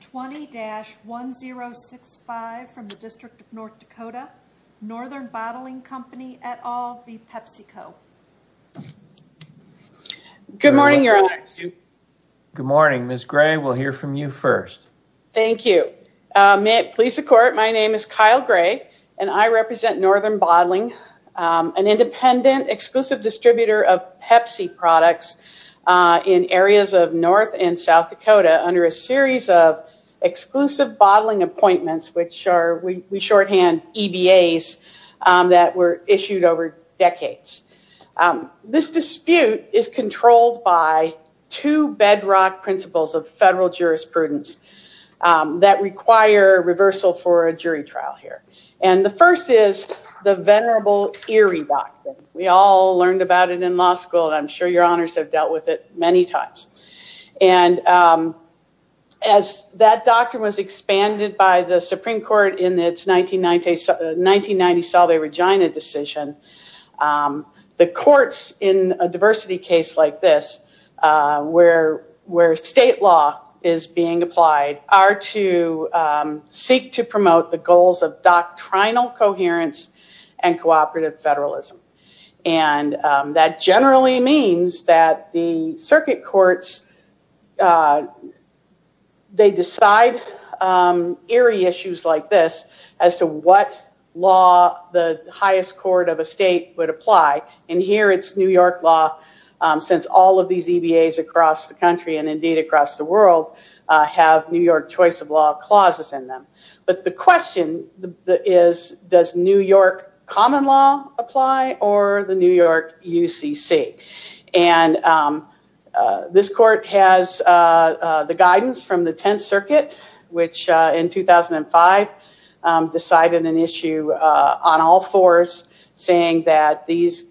20-1065 from the District of North Dakota, Northern Bottling Company, et al., v. PepsiCo. Good morning, your honors. Good morning. Ms. Gray, we'll hear from you first. Thank you. May it please the court, my name is Kyle Gray, and I represent Northern Bottling, an independent, exclusive distributor of Pepsi products in areas of North and South Dakota under a series of exclusive bottling appointments, which are, we shorthand, EBAs, that were issued over decades. This dispute is controlled by two bedrock principles of federal jurisprudence that require reversal for a jury trial here. And the first is the venerable Erie Doctrine. We all learned about it in law school, and I'm sure your honors have as that doctrine was expanded by the Supreme Court in its 1990 Salve Regina decision, the courts in a diversity case like this, where state law is being applied, are to seek to promote the goals of doctrinal coherence and cooperative federalism. And that generally means that the circuit courts, they decide Erie issues like this as to what law the highest court of a state would apply, and here it's New York law, since all of these EBAs across the country and indeed across the world have New York choice of law clauses in them. But the question is, does New York common law apply or the New York UCC? And this court has the guidance from the Tenth Circuit, which in 2005 decided an issue on all fours saying that these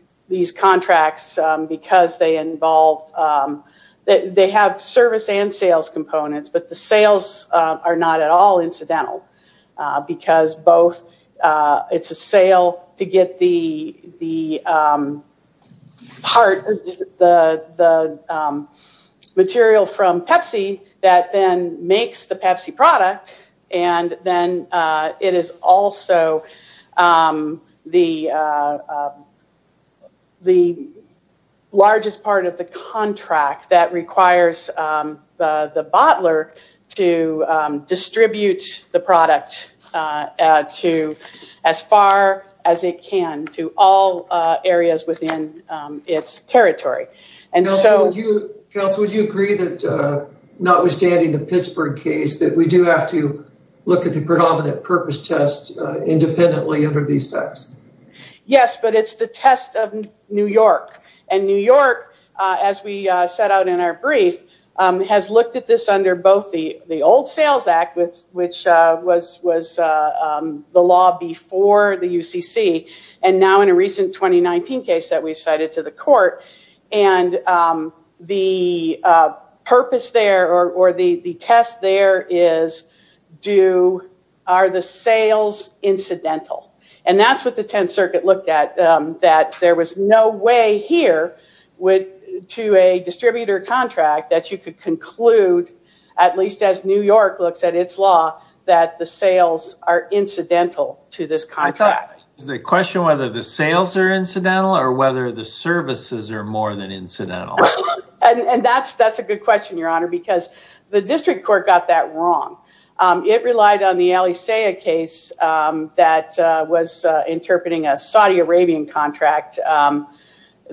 contracts, because they involve, they have service and sales components, but the sales are not at all it's a sale to get the part, the material from Pepsi that then makes the Pepsi product, and then it is also the largest part of the contract that requires the bottler to distribute the product to as far as it can to all areas within its territory. And so... Counsel, would you agree that notwithstanding the Pittsburgh case, that we do have to look at the predominant purpose test independently of these facts? Yes, but it's the test of New York. And New York, as we set out in our brief, has looked at this under both the old Sales Act, which was the law before the UCC, and now in a recent 2019 case that we cited to the court, and the purpose there or the test there is, are the sales incidental? And that's what the Tenth Circuit looked at, that there was no way here to a distributor contract that you could conclude, at least as New York looks at its law, that the sales are incidental to this contract. Is the question whether the sales are incidental or whether the services are more than incidental? And that's a good question, Your Honor, because the district court got that wrong. It relied on the Alisaia case that was interpreting a Saudi Arabian contract, and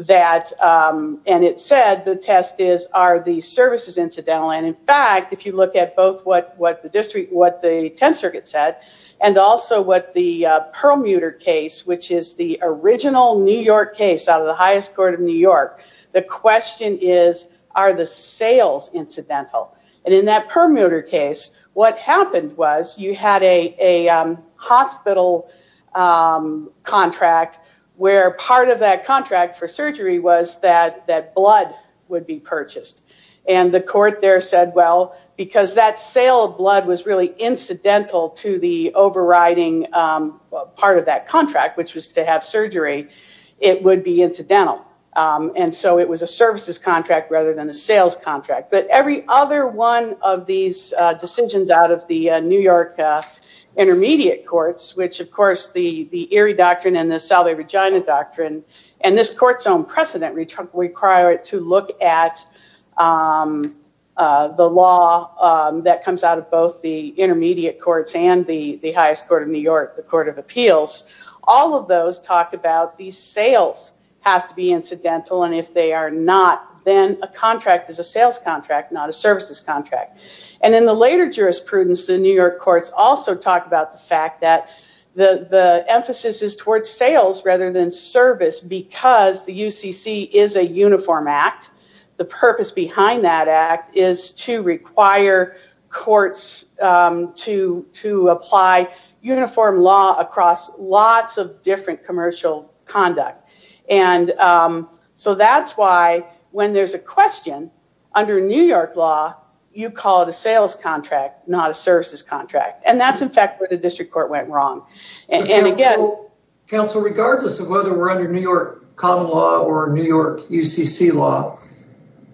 it said the test is, are the services incidental? And in fact, if you look at both what the district, what the Tenth Circuit said, and also what the Perlmutter case, which is the original New York case out of the highest court of New York, the question is, are the sales incidental? And in that Perlmutter case, what happened was you had a hospital contract where part of that contract for surgery was that blood would be purchased. And the court there said, well, because that sale of blood was really incidental to the overriding part of that contract, which was to have surgery, it would be incidental. And so it was a services contract rather than a sales contract. But every other one of these decisions out of the New York intermediate courts, which, of course, the Erie Doctrine and the Salve Regina Doctrine, and this court's own precedent require it to look at the law that comes out of both the intermediate courts and the highest court of New York, the Court of Appeals, all of those talk about the sales have to be incidental, and if they are not, then a contract is a sales contract, not a services contract. And in the later jurisprudence, the New York courts also talk about the fact that the emphasis is towards sales rather than service because the UCC is a uniform act. The purpose behind that act is to require courts to apply uniform law across lots of different commercial conduct. And so that's why, when there's a question, under New York law, you call it a sales contract, not a services contract. And that's, in fact, where the district court went wrong. And again... Counsel, regardless of whether we're under New York common law or New York UCC law,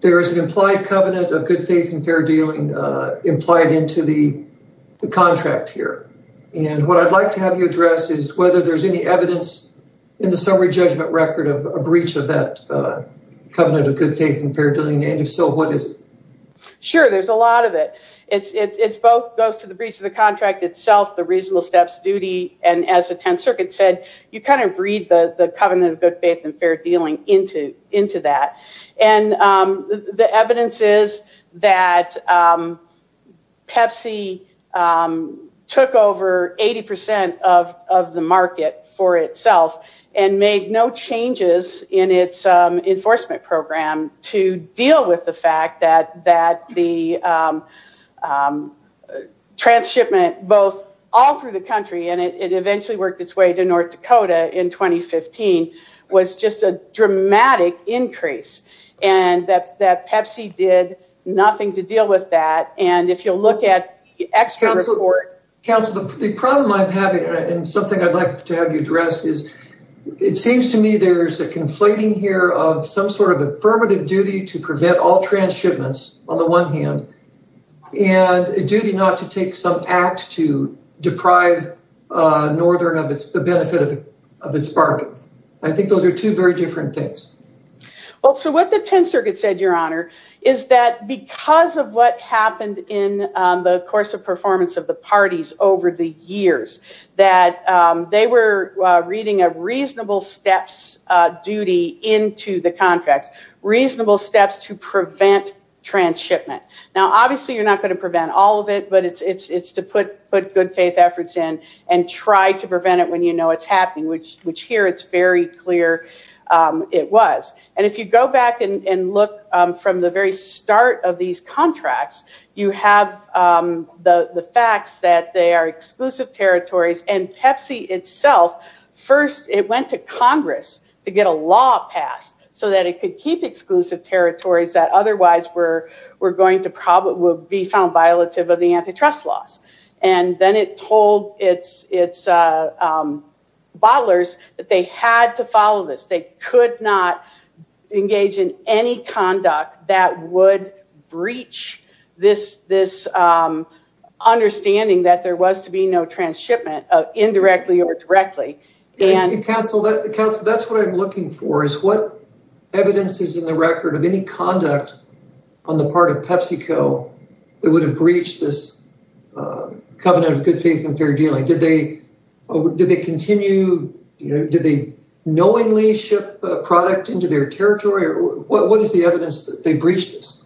there is an implied covenant of good faith and fair dealing implied into the contract here. What I'd like to have you address is whether there's any evidence in the summary judgment record of a breach of that covenant of good faith and fair dealing, and if so, what is it? Sure, there's a lot of it. It goes to the breach of the contract itself, the reasonable steps duty, and as the Tenth Circuit said, you kind of breed the covenant of good faith and fair And the evidence is that Pepsi took over 80% of the market for itself and made no changes in its enforcement program to deal with the fact that the transshipment, both all through the and that Pepsi did nothing to deal with that. And if you'll look at the expert report... Counsel, the problem I'm having and something I'd like to have you address is, it seems to me there's a conflating here of some sort of affirmative duty to prevent all transshipments, on the one hand, and a duty not to take some act to deprive Northern of the benefit of its bargain. I think those are two very different things. So what the Tenth Circuit said, Your Honor, is that because of what happened in the course of performance of the parties over the years, that they were reading a reasonable steps duty into the contracts, reasonable steps to prevent transshipment. Now, obviously, you're not going to prevent all of it, but it's to put good faith efforts in and try to prevent it when it's happening, which here it's very clear it was. And if you go back and look from the very start of these contracts, you have the facts that they are exclusive territories and Pepsi itself, first, it went to Congress to get a law passed so that it could keep exclusive territories that otherwise were going to be found violative of the antitrust laws. And then it told its bottlers that they had to follow this. They could not engage in any conduct that would breach this understanding that there was to be no transshipment, indirectly or directly. Counsel, that's what I'm looking for, is what evidence is in the record of any conduct on the part of PepsiCo that would have breached this covenant of good faith and fair dealing? Did they knowingly ship a product into their territory? What is the evidence that they breached this?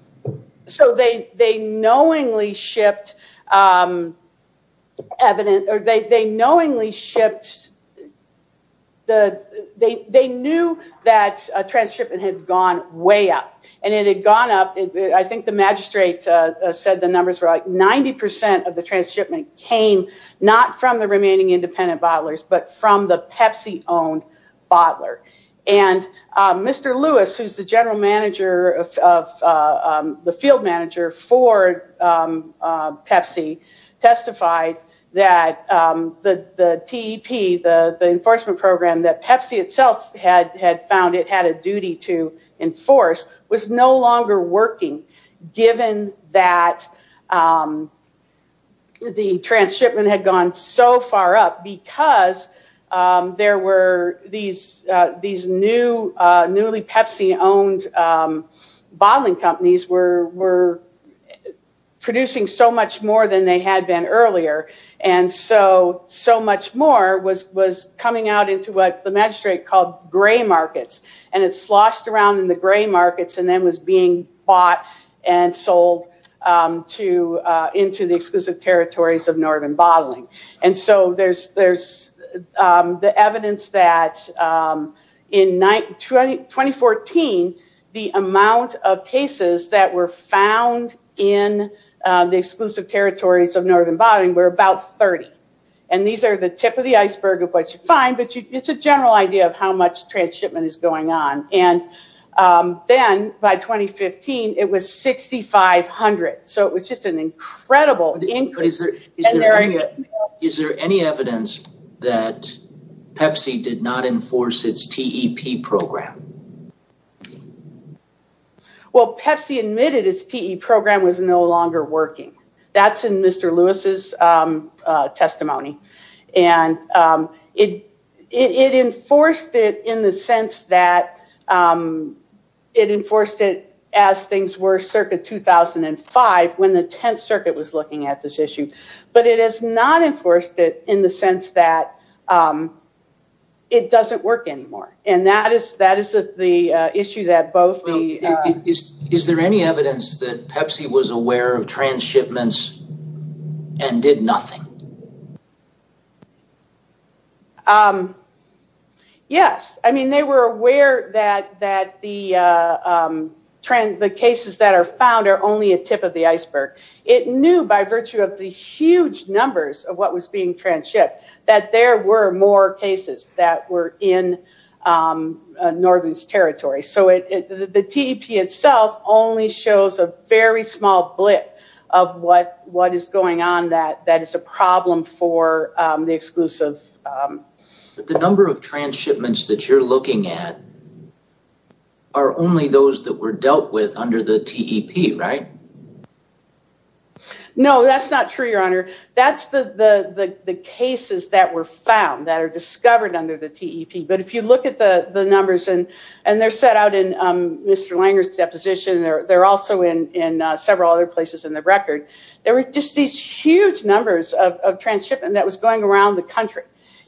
So they knowingly shipped evidence or they knowingly shipped, they knew that transshipment had gone way up. And it had gone up, I think the magistrate said the numbers were like 90% of the transshipment came not from the remaining independent bottlers, but from the Pepsi-owned bottler. And Mr. Lewis, who is the general manager of the field manager for Pepsi, testified that the TEP, the enforcement program that Pepsi itself had found it had a duty to enforce, was no longer working, given that the transshipment had gone so far up, because there were these newly Pepsi-owned bottling companies were producing so much more than they had been earlier. And so, so much more was coming out into what the magistrate called gray markets. And it sloshed around in the gray markets and then was being bought and sold into the exclusive territories of northern bottling. And so there's the evidence that in 2014, the amount of cases that were found in the exclusive territories of northern bottling were about 30. And these are the tip of the iceberg of what you find, but it's a general idea of how much transshipment is going on. And then by 2015, it was 6,500. So it was just an incredible increase. Is there any evidence that Pepsi did not enforce its TEP program? Well, Pepsi admitted its TEP program was no longer working. That's in Mr. Lewis's testimony. And it enforced it in the sense that it enforced it as things were circa 2005, when the 10th circuit was looking at this issue. But it has not enforced it in the sense that it doesn't work anymore. And that is the issue that both... Is there any evidence that Pepsi was aware of transshipments and did nothing? Yes. I mean, they were aware that the cases that are found are only a tip of the iceberg. It knew by virtue of the huge numbers of what was being transshipped that there were more cases that were in northern's territory. So the TEP itself only shows a very small blip of what is going on that is a problem for the exclusive... But the number of transshipments that you're looking at are only those that were dealt with under the TEP, right? No, that's not true, Your Honor. That's the cases that were found, that are discovered under the TEP. But if you look at the numbers, and they're set out in Mr. Langer's deposition, they're also in several other places in the record, there were just these huge numbers of transshipment that was going around the country.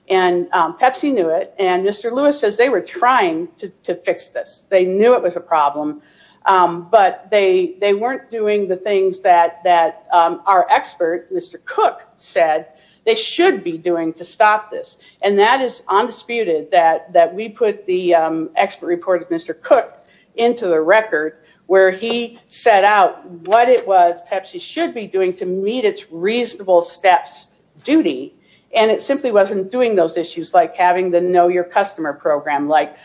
And Pepsi knew it. And Mr. Lewis says they were trying to fix this. They knew it was a problem. But they weren't doing the things that our expert, Mr. Cook, said they should be doing to stop this. And that is undisputed, that we put the expert report of Mr. Cook into the record, where he set out what it was Pepsi should be doing to meet its reasonable steps duty. And it simply wasn't doing those issues like having the know your customer program, like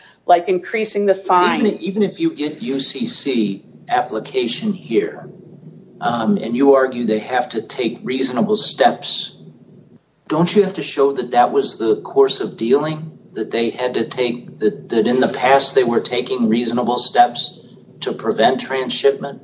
increasing the fine. Even if you get UCC application here, and you argue they have to take reasonable steps, don't you have to show that that was the course of dealing that they had to take, that in the past they were taking reasonable steps to prevent transshipment,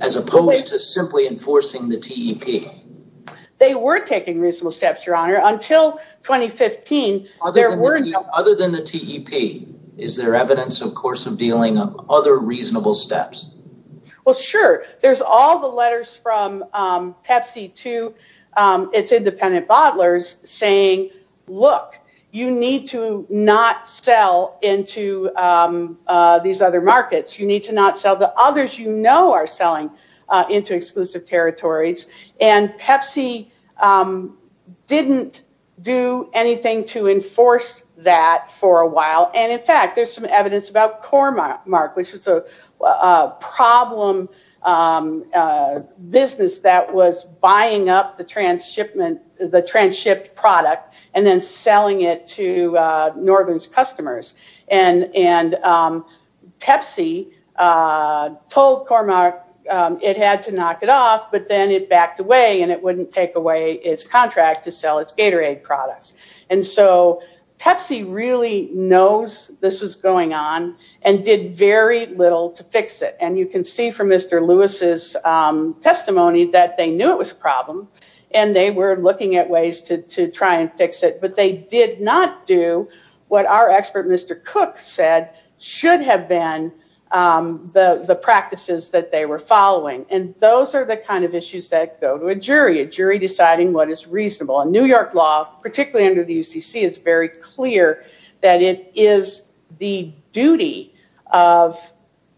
as opposed to simply enforcing the TEP? They were taking reasonable steps, your honor, until 2015. Other than the TEP, is there evidence of course of dealing of other reasonable steps? Sure. There's all the letters from Pepsi to its independent bottlers saying, look, you need to not sell into these other markets. You need to not sell the others you know are selling into exclusive territories. And Pepsi didn't do anything to enforce that for a while. And in fact, there's some evidence about Cormark, which was a problem business that was buying up the transshipment, the transshipped product, and then selling it to Northern's customers. And Pepsi told Cormark it had to knock it off, but then it backed away and it wouldn't take away its and did very little to fix it. And you can see from Mr. Lewis's testimony that they knew it was a problem, and they were looking at ways to try and fix it, but they did not do what our expert Mr. Cook said should have been the practices that they were following. And those are the kind of issues that go to a jury, a jury deciding what is reasonable. And New York law, particularly under the UCC, it's very clear that it is the duty of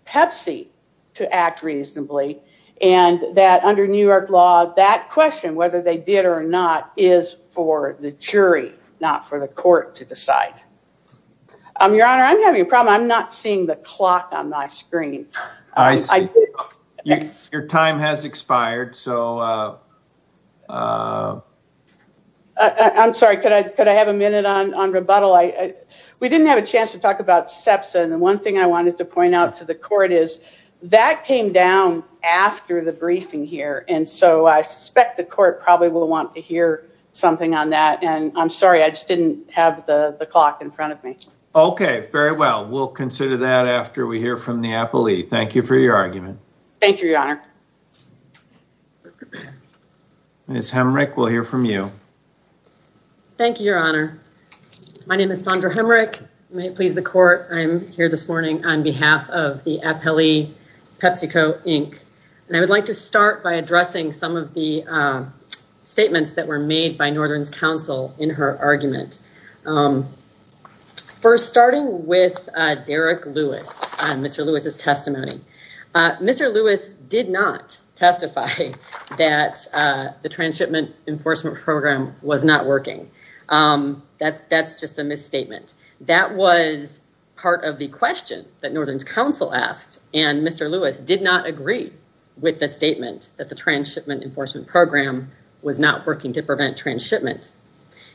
Pepsi to act reasonably, and that under New York law, that question, whether they did or not, is for the jury, not for the court to decide. Your Honor, I'm having a problem. I'm not seeing the clock on my screen. I see. Your time has expired. So I'm sorry. Could I have a minute on rebuttal? We didn't have a chance to talk about SEPSA, and the one thing I wanted to point out to the court is that came down after the briefing here, and so I suspect the court probably will want to hear something on that. And I'm sorry, I just didn't have the clock in front of me. Okay. Very well. We'll consider that after we hear from the appellee. Thank you for your argument. Thank you, Your Honor. Ms. Hemrick, we'll hear from you. Thank you, Your Honor. My name is Sondra Hemrick. May it please the court, I'm here this morning on behalf of the Appellee PepsiCo Inc. And I would like to start by addressing some of the statements that were made by Northern's counsel in her argument. First, starting with Derek Lewis, Mr. Lewis's testimony. Mr. Lewis did not testify that the transshipment enforcement program was not working. That's just a misstatement. That was part of the question that Northern's counsel asked, and Mr. Lewis did not agree with the statement that the transshipment enforcement program was not working to prevent transshipment.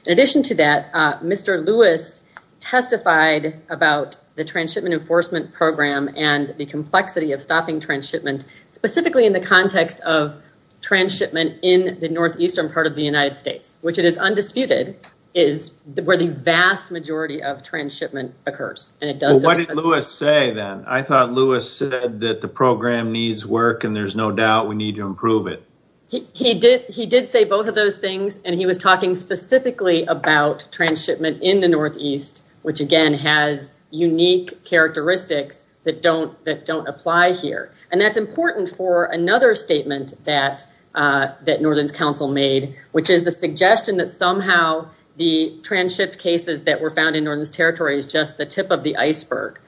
In addition to that, Mr. Lewis testified about the transshipment enforcement program and the complexity of stopping transshipment, specifically in the context of transshipment in the northeastern part of the United States, which it is undisputed, is where the vast majority of transshipment occurs. What did Lewis say then? I thought Lewis said that the program needs work and there's no doubt we need to improve it. He did say both of those things, and he was talking specifically about unique characteristics that don't apply here. That's important for another statement that Northern's counsel made, which is the suggestion that somehow the transship cases that were found in Northern's territory is just the tip of the iceberg.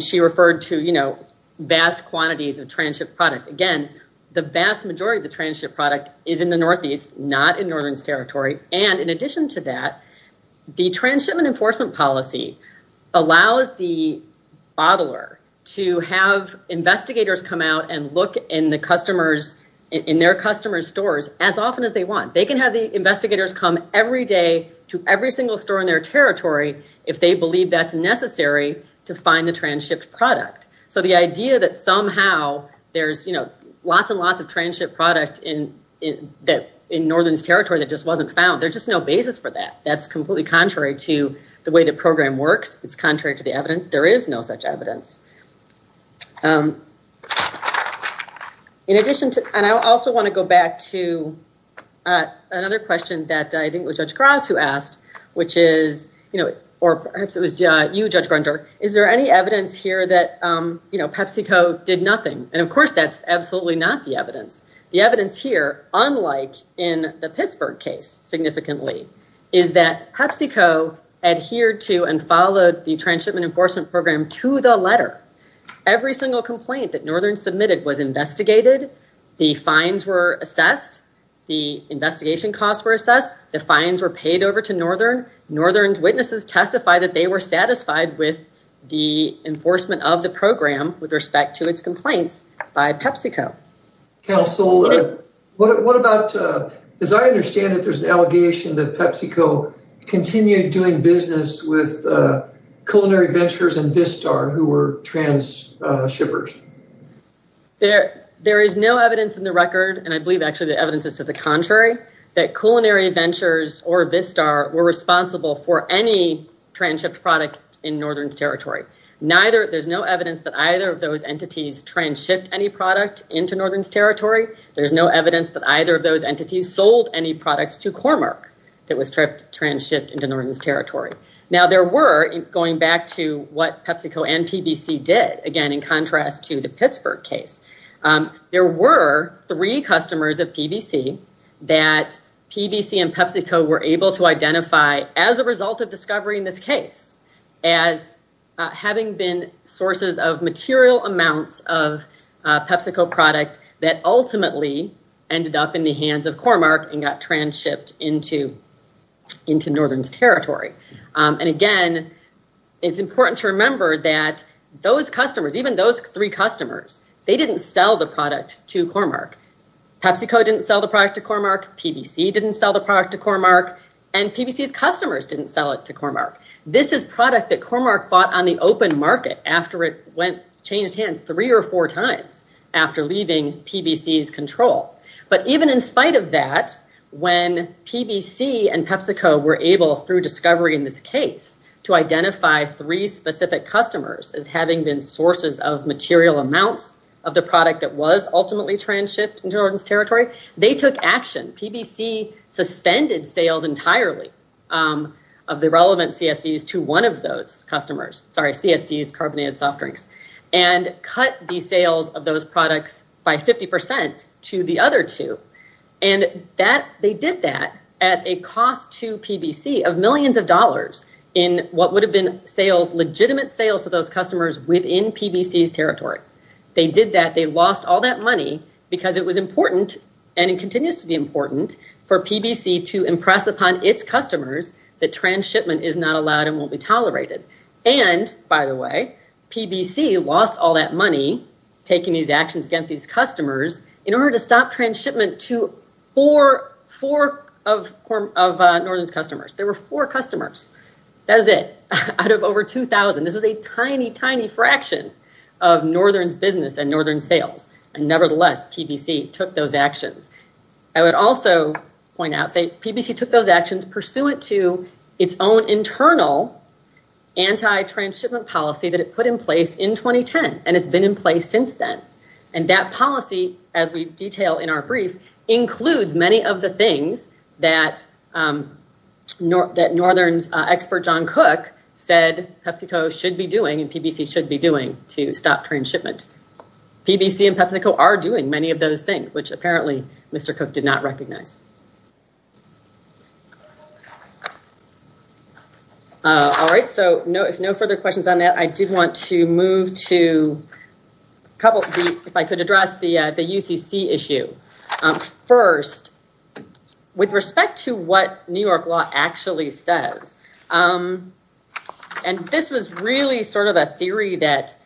She referred to vast quantities of transship product. Again, the vast majority of the transship product is in the northeast, not in Northern's territory. In addition to that, the transshipment enforcement policy allows the bottler to have investigators come out and look in their customers' stores as often as they want. They can have the investigators come every day to every single store in their territory if they believe that's necessary to find the transshipped product. The idea that somehow there's lots and lots of transshipped product in Northern's territory that just wasn't found, there's just no basis for that. That's completely contrary to the way the program works. It's contrary to the evidence. There is no such evidence. I also want to go back to another question that I think it was Judge Graz who asked, or perhaps it was you, Judge Grunder. Is there any evidence here that PepsiCo did nothing? Of course, that's absolutely not the evidence. The evidence here, unlike in the Pittsburgh case significantly, is that PepsiCo adhered to and followed the transshipment enforcement program to the letter. Every single complaint that Northern submitted was investigated. The fines were assessed. The investigation costs were assessed. The fines were paid over to Northern. Northern's witnesses testified that they were satisfied with the enforcement of the program with respect to its complaints by PepsiCo. Counsel, as I understand it, there's an allegation that PepsiCo continued doing business with Culinary Ventures and Vistar who were transshippers. There is no evidence in the record, and I believe actually the evidence is to the contrary, that Culinary Ventures or Vistar were responsible for any transshipped product in Northern's territory. There's no evidence that either of those entities transshipped any product into Northern's territory. There's no evidence that either of those entities sold any product to Cormark that was transshipped into Northern's territory. Now, going back to what PepsiCo and PBC said, that PBC and PepsiCo were able to identify as a result of discovery in this case as having been sources of material amounts of PepsiCo product that ultimately ended up in the hands of Cormark and got transshipped into Northern's territory. Again, it's important to remember that those customers, even those three customers, they didn't sell the product to Cormark. PepsiCo didn't sell the product to Cormark, PBC didn't sell the product to Cormark, and PBC's customers didn't sell it to Cormark. This is product that Cormark bought on the open market after it changed hands three or four times after leaving PBC's control. Even in spite of that, when PBC and PepsiCo were able, through discovery in this case, to identify three specific customers as having been sources of material amounts of the product that was ultimately transshipped into Northern's territory, they took action. PBC suspended sales entirely of the relevant CSDs to one of those customers, sorry, CSDs, carbonated soft drinks, and cut the sales of those products by 50% to the other two. They did that at a cost to PBC of millions of dollars in what would have been legitimate sales to those customers within PBC's territory. They did that. They lost all that money because it was important, and it continues to be important, for PBC to impress upon its customers that transshipment is not allowed and won't be tolerated. By the way, PBC lost all that money taking these actions against these customers in order to stop transshipment to four of Northern's customers. There were four customers. That was it. Out of over 2,000, this was a tiny, tiny fraction of Northern's business and Northern sales. Nevertheless, PBC took those actions. I would also point out that PBC took those actions pursuant to its own internal anti-transshipment policy that it put in place in 2010, and it's policy, as we detail in our brief, includes many of the things that Northern's expert John Cook said PepsiCo should be doing and PBC should be doing to stop transshipment. PBC and PepsiCo are doing many of those things, which apparently Mr. Cook did not recognize. All right. If no further questions on that, I did want to move to a couple, if I could address the UCC issue. First, with respect to what New York law actually says, and this was really a theory that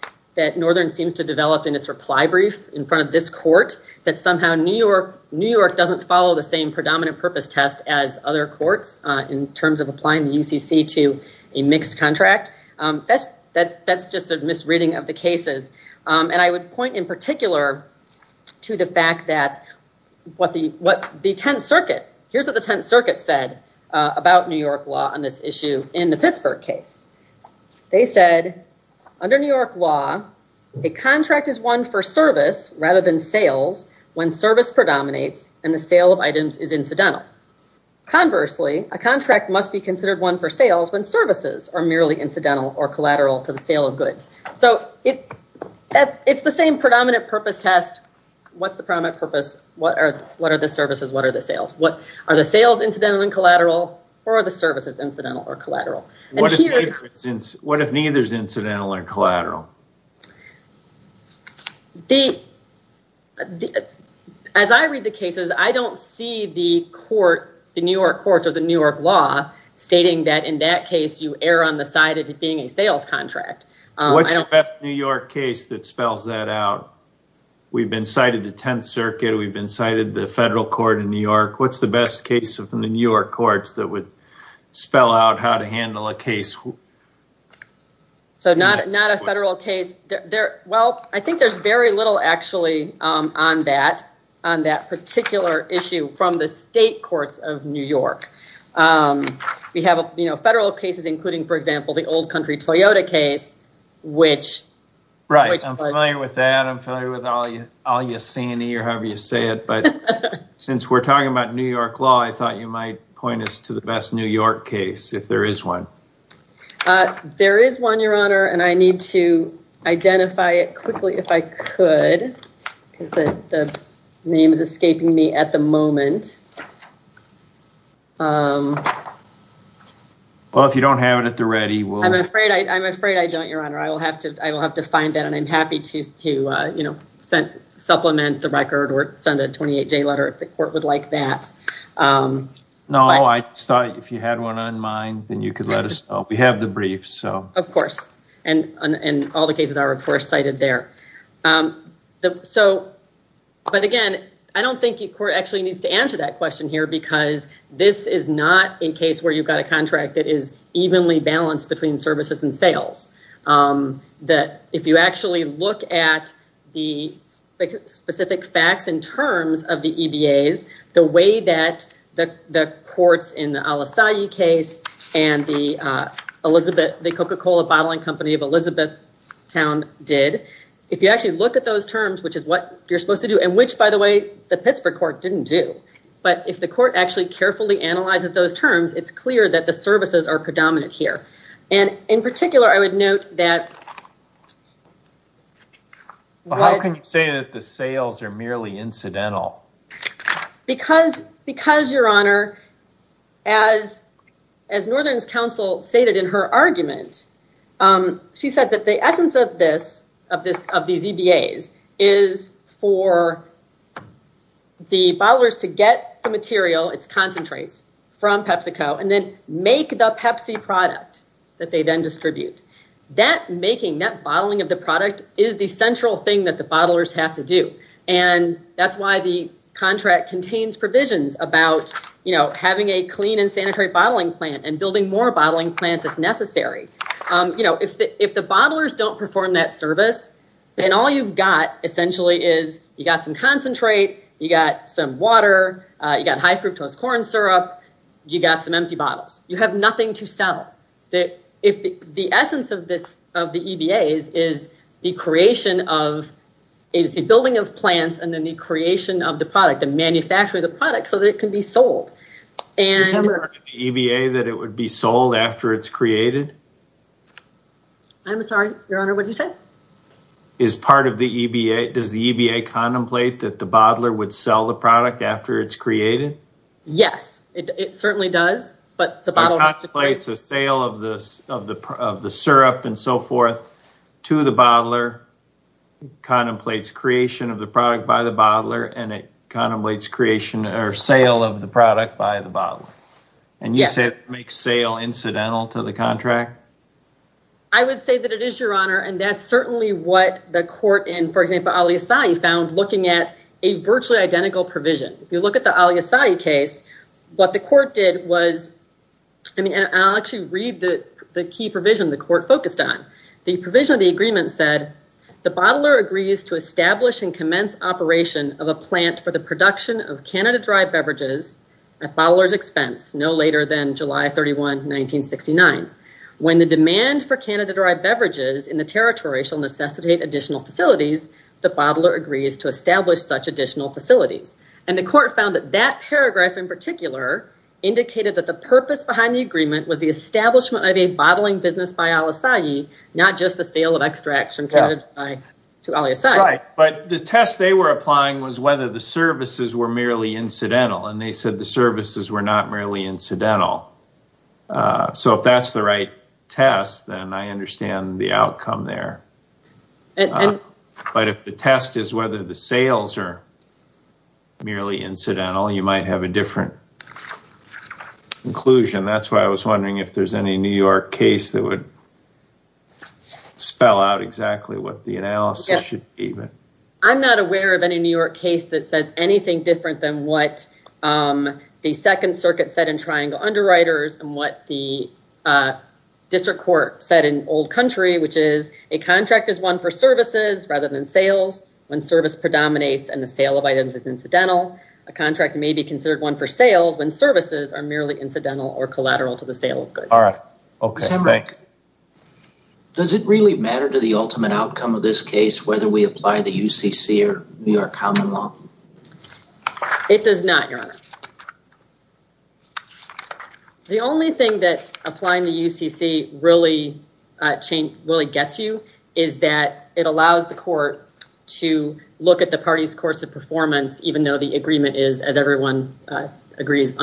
Northern seems to develop in its reply brief in front of this court, that somehow New York doesn't follow the same predominant purpose test as other courts in terms of applying the UCC to a mixed contract. That's just a misreading of the cases. I would point in particular to the fact that what the Tenth Circuit, here's what the Tenth Circuit said about New York law on this issue in the Pittsburgh case. They said, under New York law, a contract is won for service rather than sales when service predominates and the sale of items is incidental. Conversely, a contract must be considered won for sales when services are merely incidental or collateral to the sale of goods. It's the same predominant purpose test. What's the prominent purpose? What are the services? What are the sales? Are the sales incidental and collateral, or are the services incidental or collateral? What if neither is incidental or collateral? As I read the cases, I don't see the New York court or the New York law stating that in that case you err on the side of it being a sales contract. What's the best New York case that spells that out? We've been cited the Tenth Circuit. We've been cited the federal court in New York. What's the best case from the New York courts that would spell out how to handle a sales contract? Not a federal case. I think there's very little actually on that particular issue from the state courts of New York. We have federal cases, including, for example, the old country Toyota case. Right. I'm familiar with that. I'm familiar with Al Yassini or however you say it. Since we're talking about New York law, I thought you might point us to the best case if there is one. There is one, Your Honor, and I need to identify it quickly if I could because the name is escaping me at the moment. Well, if you don't have it at the ready... I'm afraid I don't, Your Honor. I will have to find that and I'm happy to supplement the record or send a 28-day letter if the court would like that. No, I thought if you had one on mind, then you could let us know. We have the briefs. Of course, and all the cases are, of course, cited there. But again, I don't think your court actually needs to answer that question here because this is not a case where you've got a contract that is evenly balanced between services and sales. If you actually look at the specific facts and terms of the EBAs, the way that the courts in the Al Asayi case and the Coca-Cola Bottling Company of Elizabethtown did, if you actually look at those terms, which is what you're supposed to do and which, by the way, the Pittsburgh court didn't do, but if the court actually carefully analyzes those terms, it's clear that the services are predominant here. In particular, I would note that- How can you say that the sales are merely incidental? Because, Your Honor, as Northern's counsel stated in her argument, she said that the essence of these EBAs is for the bottlers to get the material, its concentrates from PepsiCo, and then make the Pepsi product that they then distribute. That making, that bottling of the product is the central thing that the bottlers have to do. That's why the contract contains provisions about having a clean and sanitary bottling plant and building more bottling plants if necessary. If the bottlers don't perform that service, then all you've got essentially is you got some concentrate, you got some water, you got high fructose corn syrup, you got some empty bottles. You have nothing to sell. The essence of the EBAs is the creation of, is the building of plants and then the creation of the product, the manufacture of the product so that it can be sold. Is part of the EBA that it would be sold after it's created? I'm sorry, Your Honor, what did you say? Is part of the EBA, does the EBA contemplate that the bottler would sell the product after it's created? Yes, it certainly does. So it contemplates the sale of the syrup and so forth to the bottler, contemplates creation of the product by the bottler, and it contemplates creation or sale of the product by the bottler. And you said it makes sale incidental to the contract? I would say that it is, Your Honor, and that's certainly what the court in, for example, Al-Isa'i found looking at a virtually identical provision. If you look at the Al-Isa'i case, what the court did was, I mean, and I'll actually read the key provision the court focused on. The provision of the agreement said, the bottler agrees to establish and commence operation of a plant for the production of Canada Dry beverages at bottler's expense, no later than July 31, 1969. When the demand for Canada Dry beverages in the territory shall necessitate additional facilities, the bottler agrees to establish such additional facilities. And the court found that that paragraph in particular indicated that the purpose behind the agreement was the establishment of a bottling business by Al-Isa'i, not just the sale of extracts from Canada Dry to Al-Isa'i. But the test they were applying was whether the services were merely incidental, and they said the services were not merely incidental. So if that's the right test, then I understand the outcome there. But if the test is whether the sales are merely incidental, you might have a different conclusion. That's why I was wondering if there's any New York case that would spell out exactly what the analysis should be. I'm not aware of any New York case that says anything different than what the Second Circuit said in Triangle Underwriters and what the District Court said in Old Country, which is a contract is one for services rather than sales when service predominates and the sale of items is incidental. A contract may be considered one for sales when services are merely incidental or collateral to the sale of goods. Okay. Does it really matter to the ultimate outcome of this case whether we apply the UCC or New York Common Law? It does not, Your Honor. The only thing that applying the UCC really gets you is that it allows the court to look at the party's course of performance, even though the agreement is, as everyone agrees,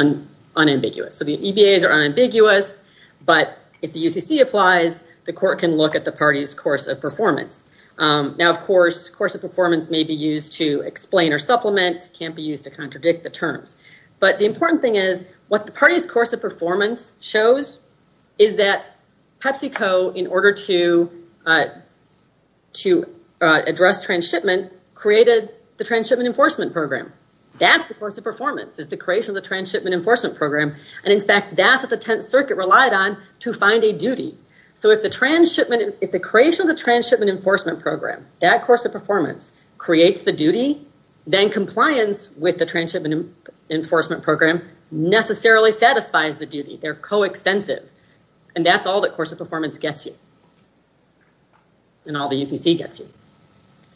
unambiguous. The EBAs are unambiguous, but if the UCC applies, the court can look at the party's course of performance. Now, of course, course of performance may be used to explain or supplement. It can't be used to contradict the terms, but the important thing is what the party's course of performance shows is that PepsiCo, in order to address transshipment, created the Transshipment Enforcement Program. That's the course of performance. It's the creation of the Tenth Circuit relied on to find a duty. If the creation of the Transshipment Enforcement Program, that course of performance, creates the duty, then compliance with the Transshipment Enforcement Program necessarily satisfies the duty. They're coextensive. That's all the course of performance gets you and all the UCC gets you.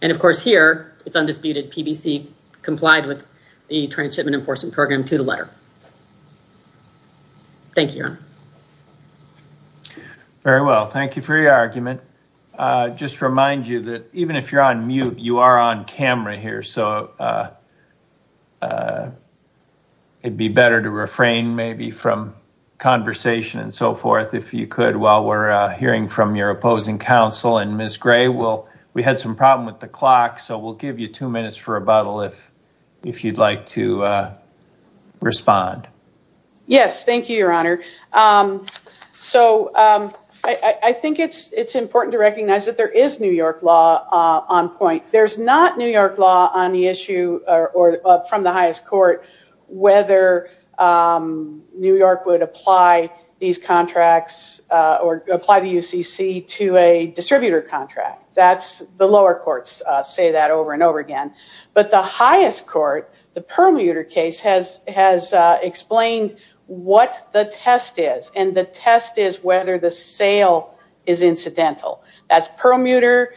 Of course, here, it's undisputed. PBC complied with the Transshipment Enforcement Program to the letter. Thank you. Very well. Thank you for your argument. Just to remind you that even if you're on mute, you are on camera here, so it would be better to refrain maybe from conversation and so forth, if you could, while we're hearing from your opposing counsel. Ms. Gray, we had some problem with the clock, so we'll give you two minutes for rebuttal, if you'd like to respond. Yes. Thank you, Your Honor. I think it's important to recognize that there is New York law on point. There's not New York law on the issue, or from the highest court, whether New York would apply these contracts or apply the UCC to a distributor contract. That's the lower courts say that over and over again. But the highest court, the Perlmuter case, has explained what the test is, and the test is whether the sale is incidental. That's Perlmuter,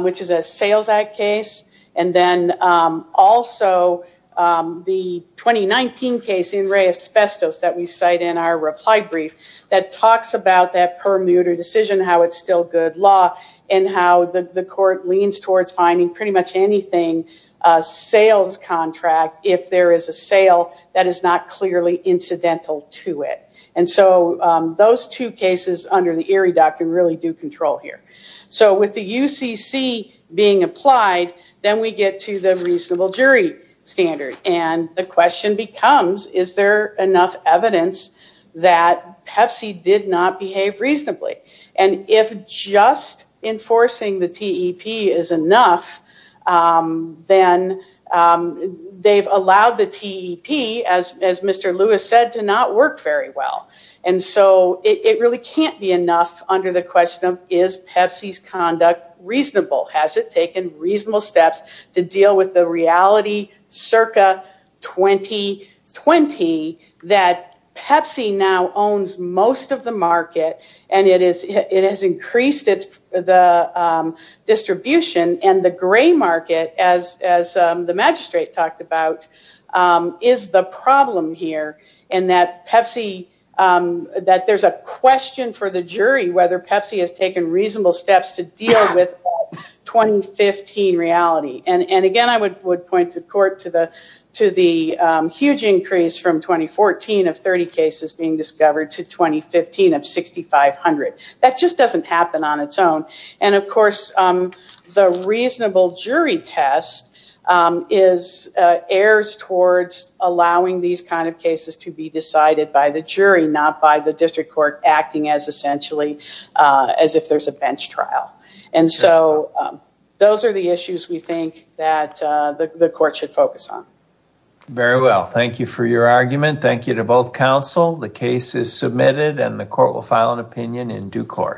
which is a sales case, and then also the 2019 case in Ray Asbestos that we cite in our reply brief, that talks about that Perlmuter decision, how it's still good law, and how the court leans towards finding pretty much anything, a sales contract, if there is a sale that is not clearly incidental to it. And so those two cases under the Erie Doctrine really do control here. So with the UCC being applied, then we get to the reasonable jury standard. And the question becomes, is there enough evidence that Pepsi did not behave reasonably? And if just enforcing the TEP is enough, then they've allowed the TEP, as Mr. Lewis said, to not work very well. And so it really can't be enough under the question of, is Pepsi's conduct reasonable? Has it taken reasonable steps to deal with the reality circa 2020 that Pepsi now owns most of the market, and it has increased the distribution, and the gray market, as the magistrate talked about, is the problem here, and that Pepsi, that there's a question for the jury whether Pepsi has taken reasonable steps to deal with the 2015 reality. And again, I would point the court to the huge increase from 2014 of 30 cases being discovered to 2015 of 6,500. That just doesn't happen on of course, the reasonable jury test is, errs towards allowing these kind of cases to be decided by the jury, not by the district court acting as essentially as if there's a bench trial. And so those are the issues we think that the court should focus on. Very well. Thank you for your argument. Thank you to both counsel. The case is submitted, and the court will file an opinion in due course.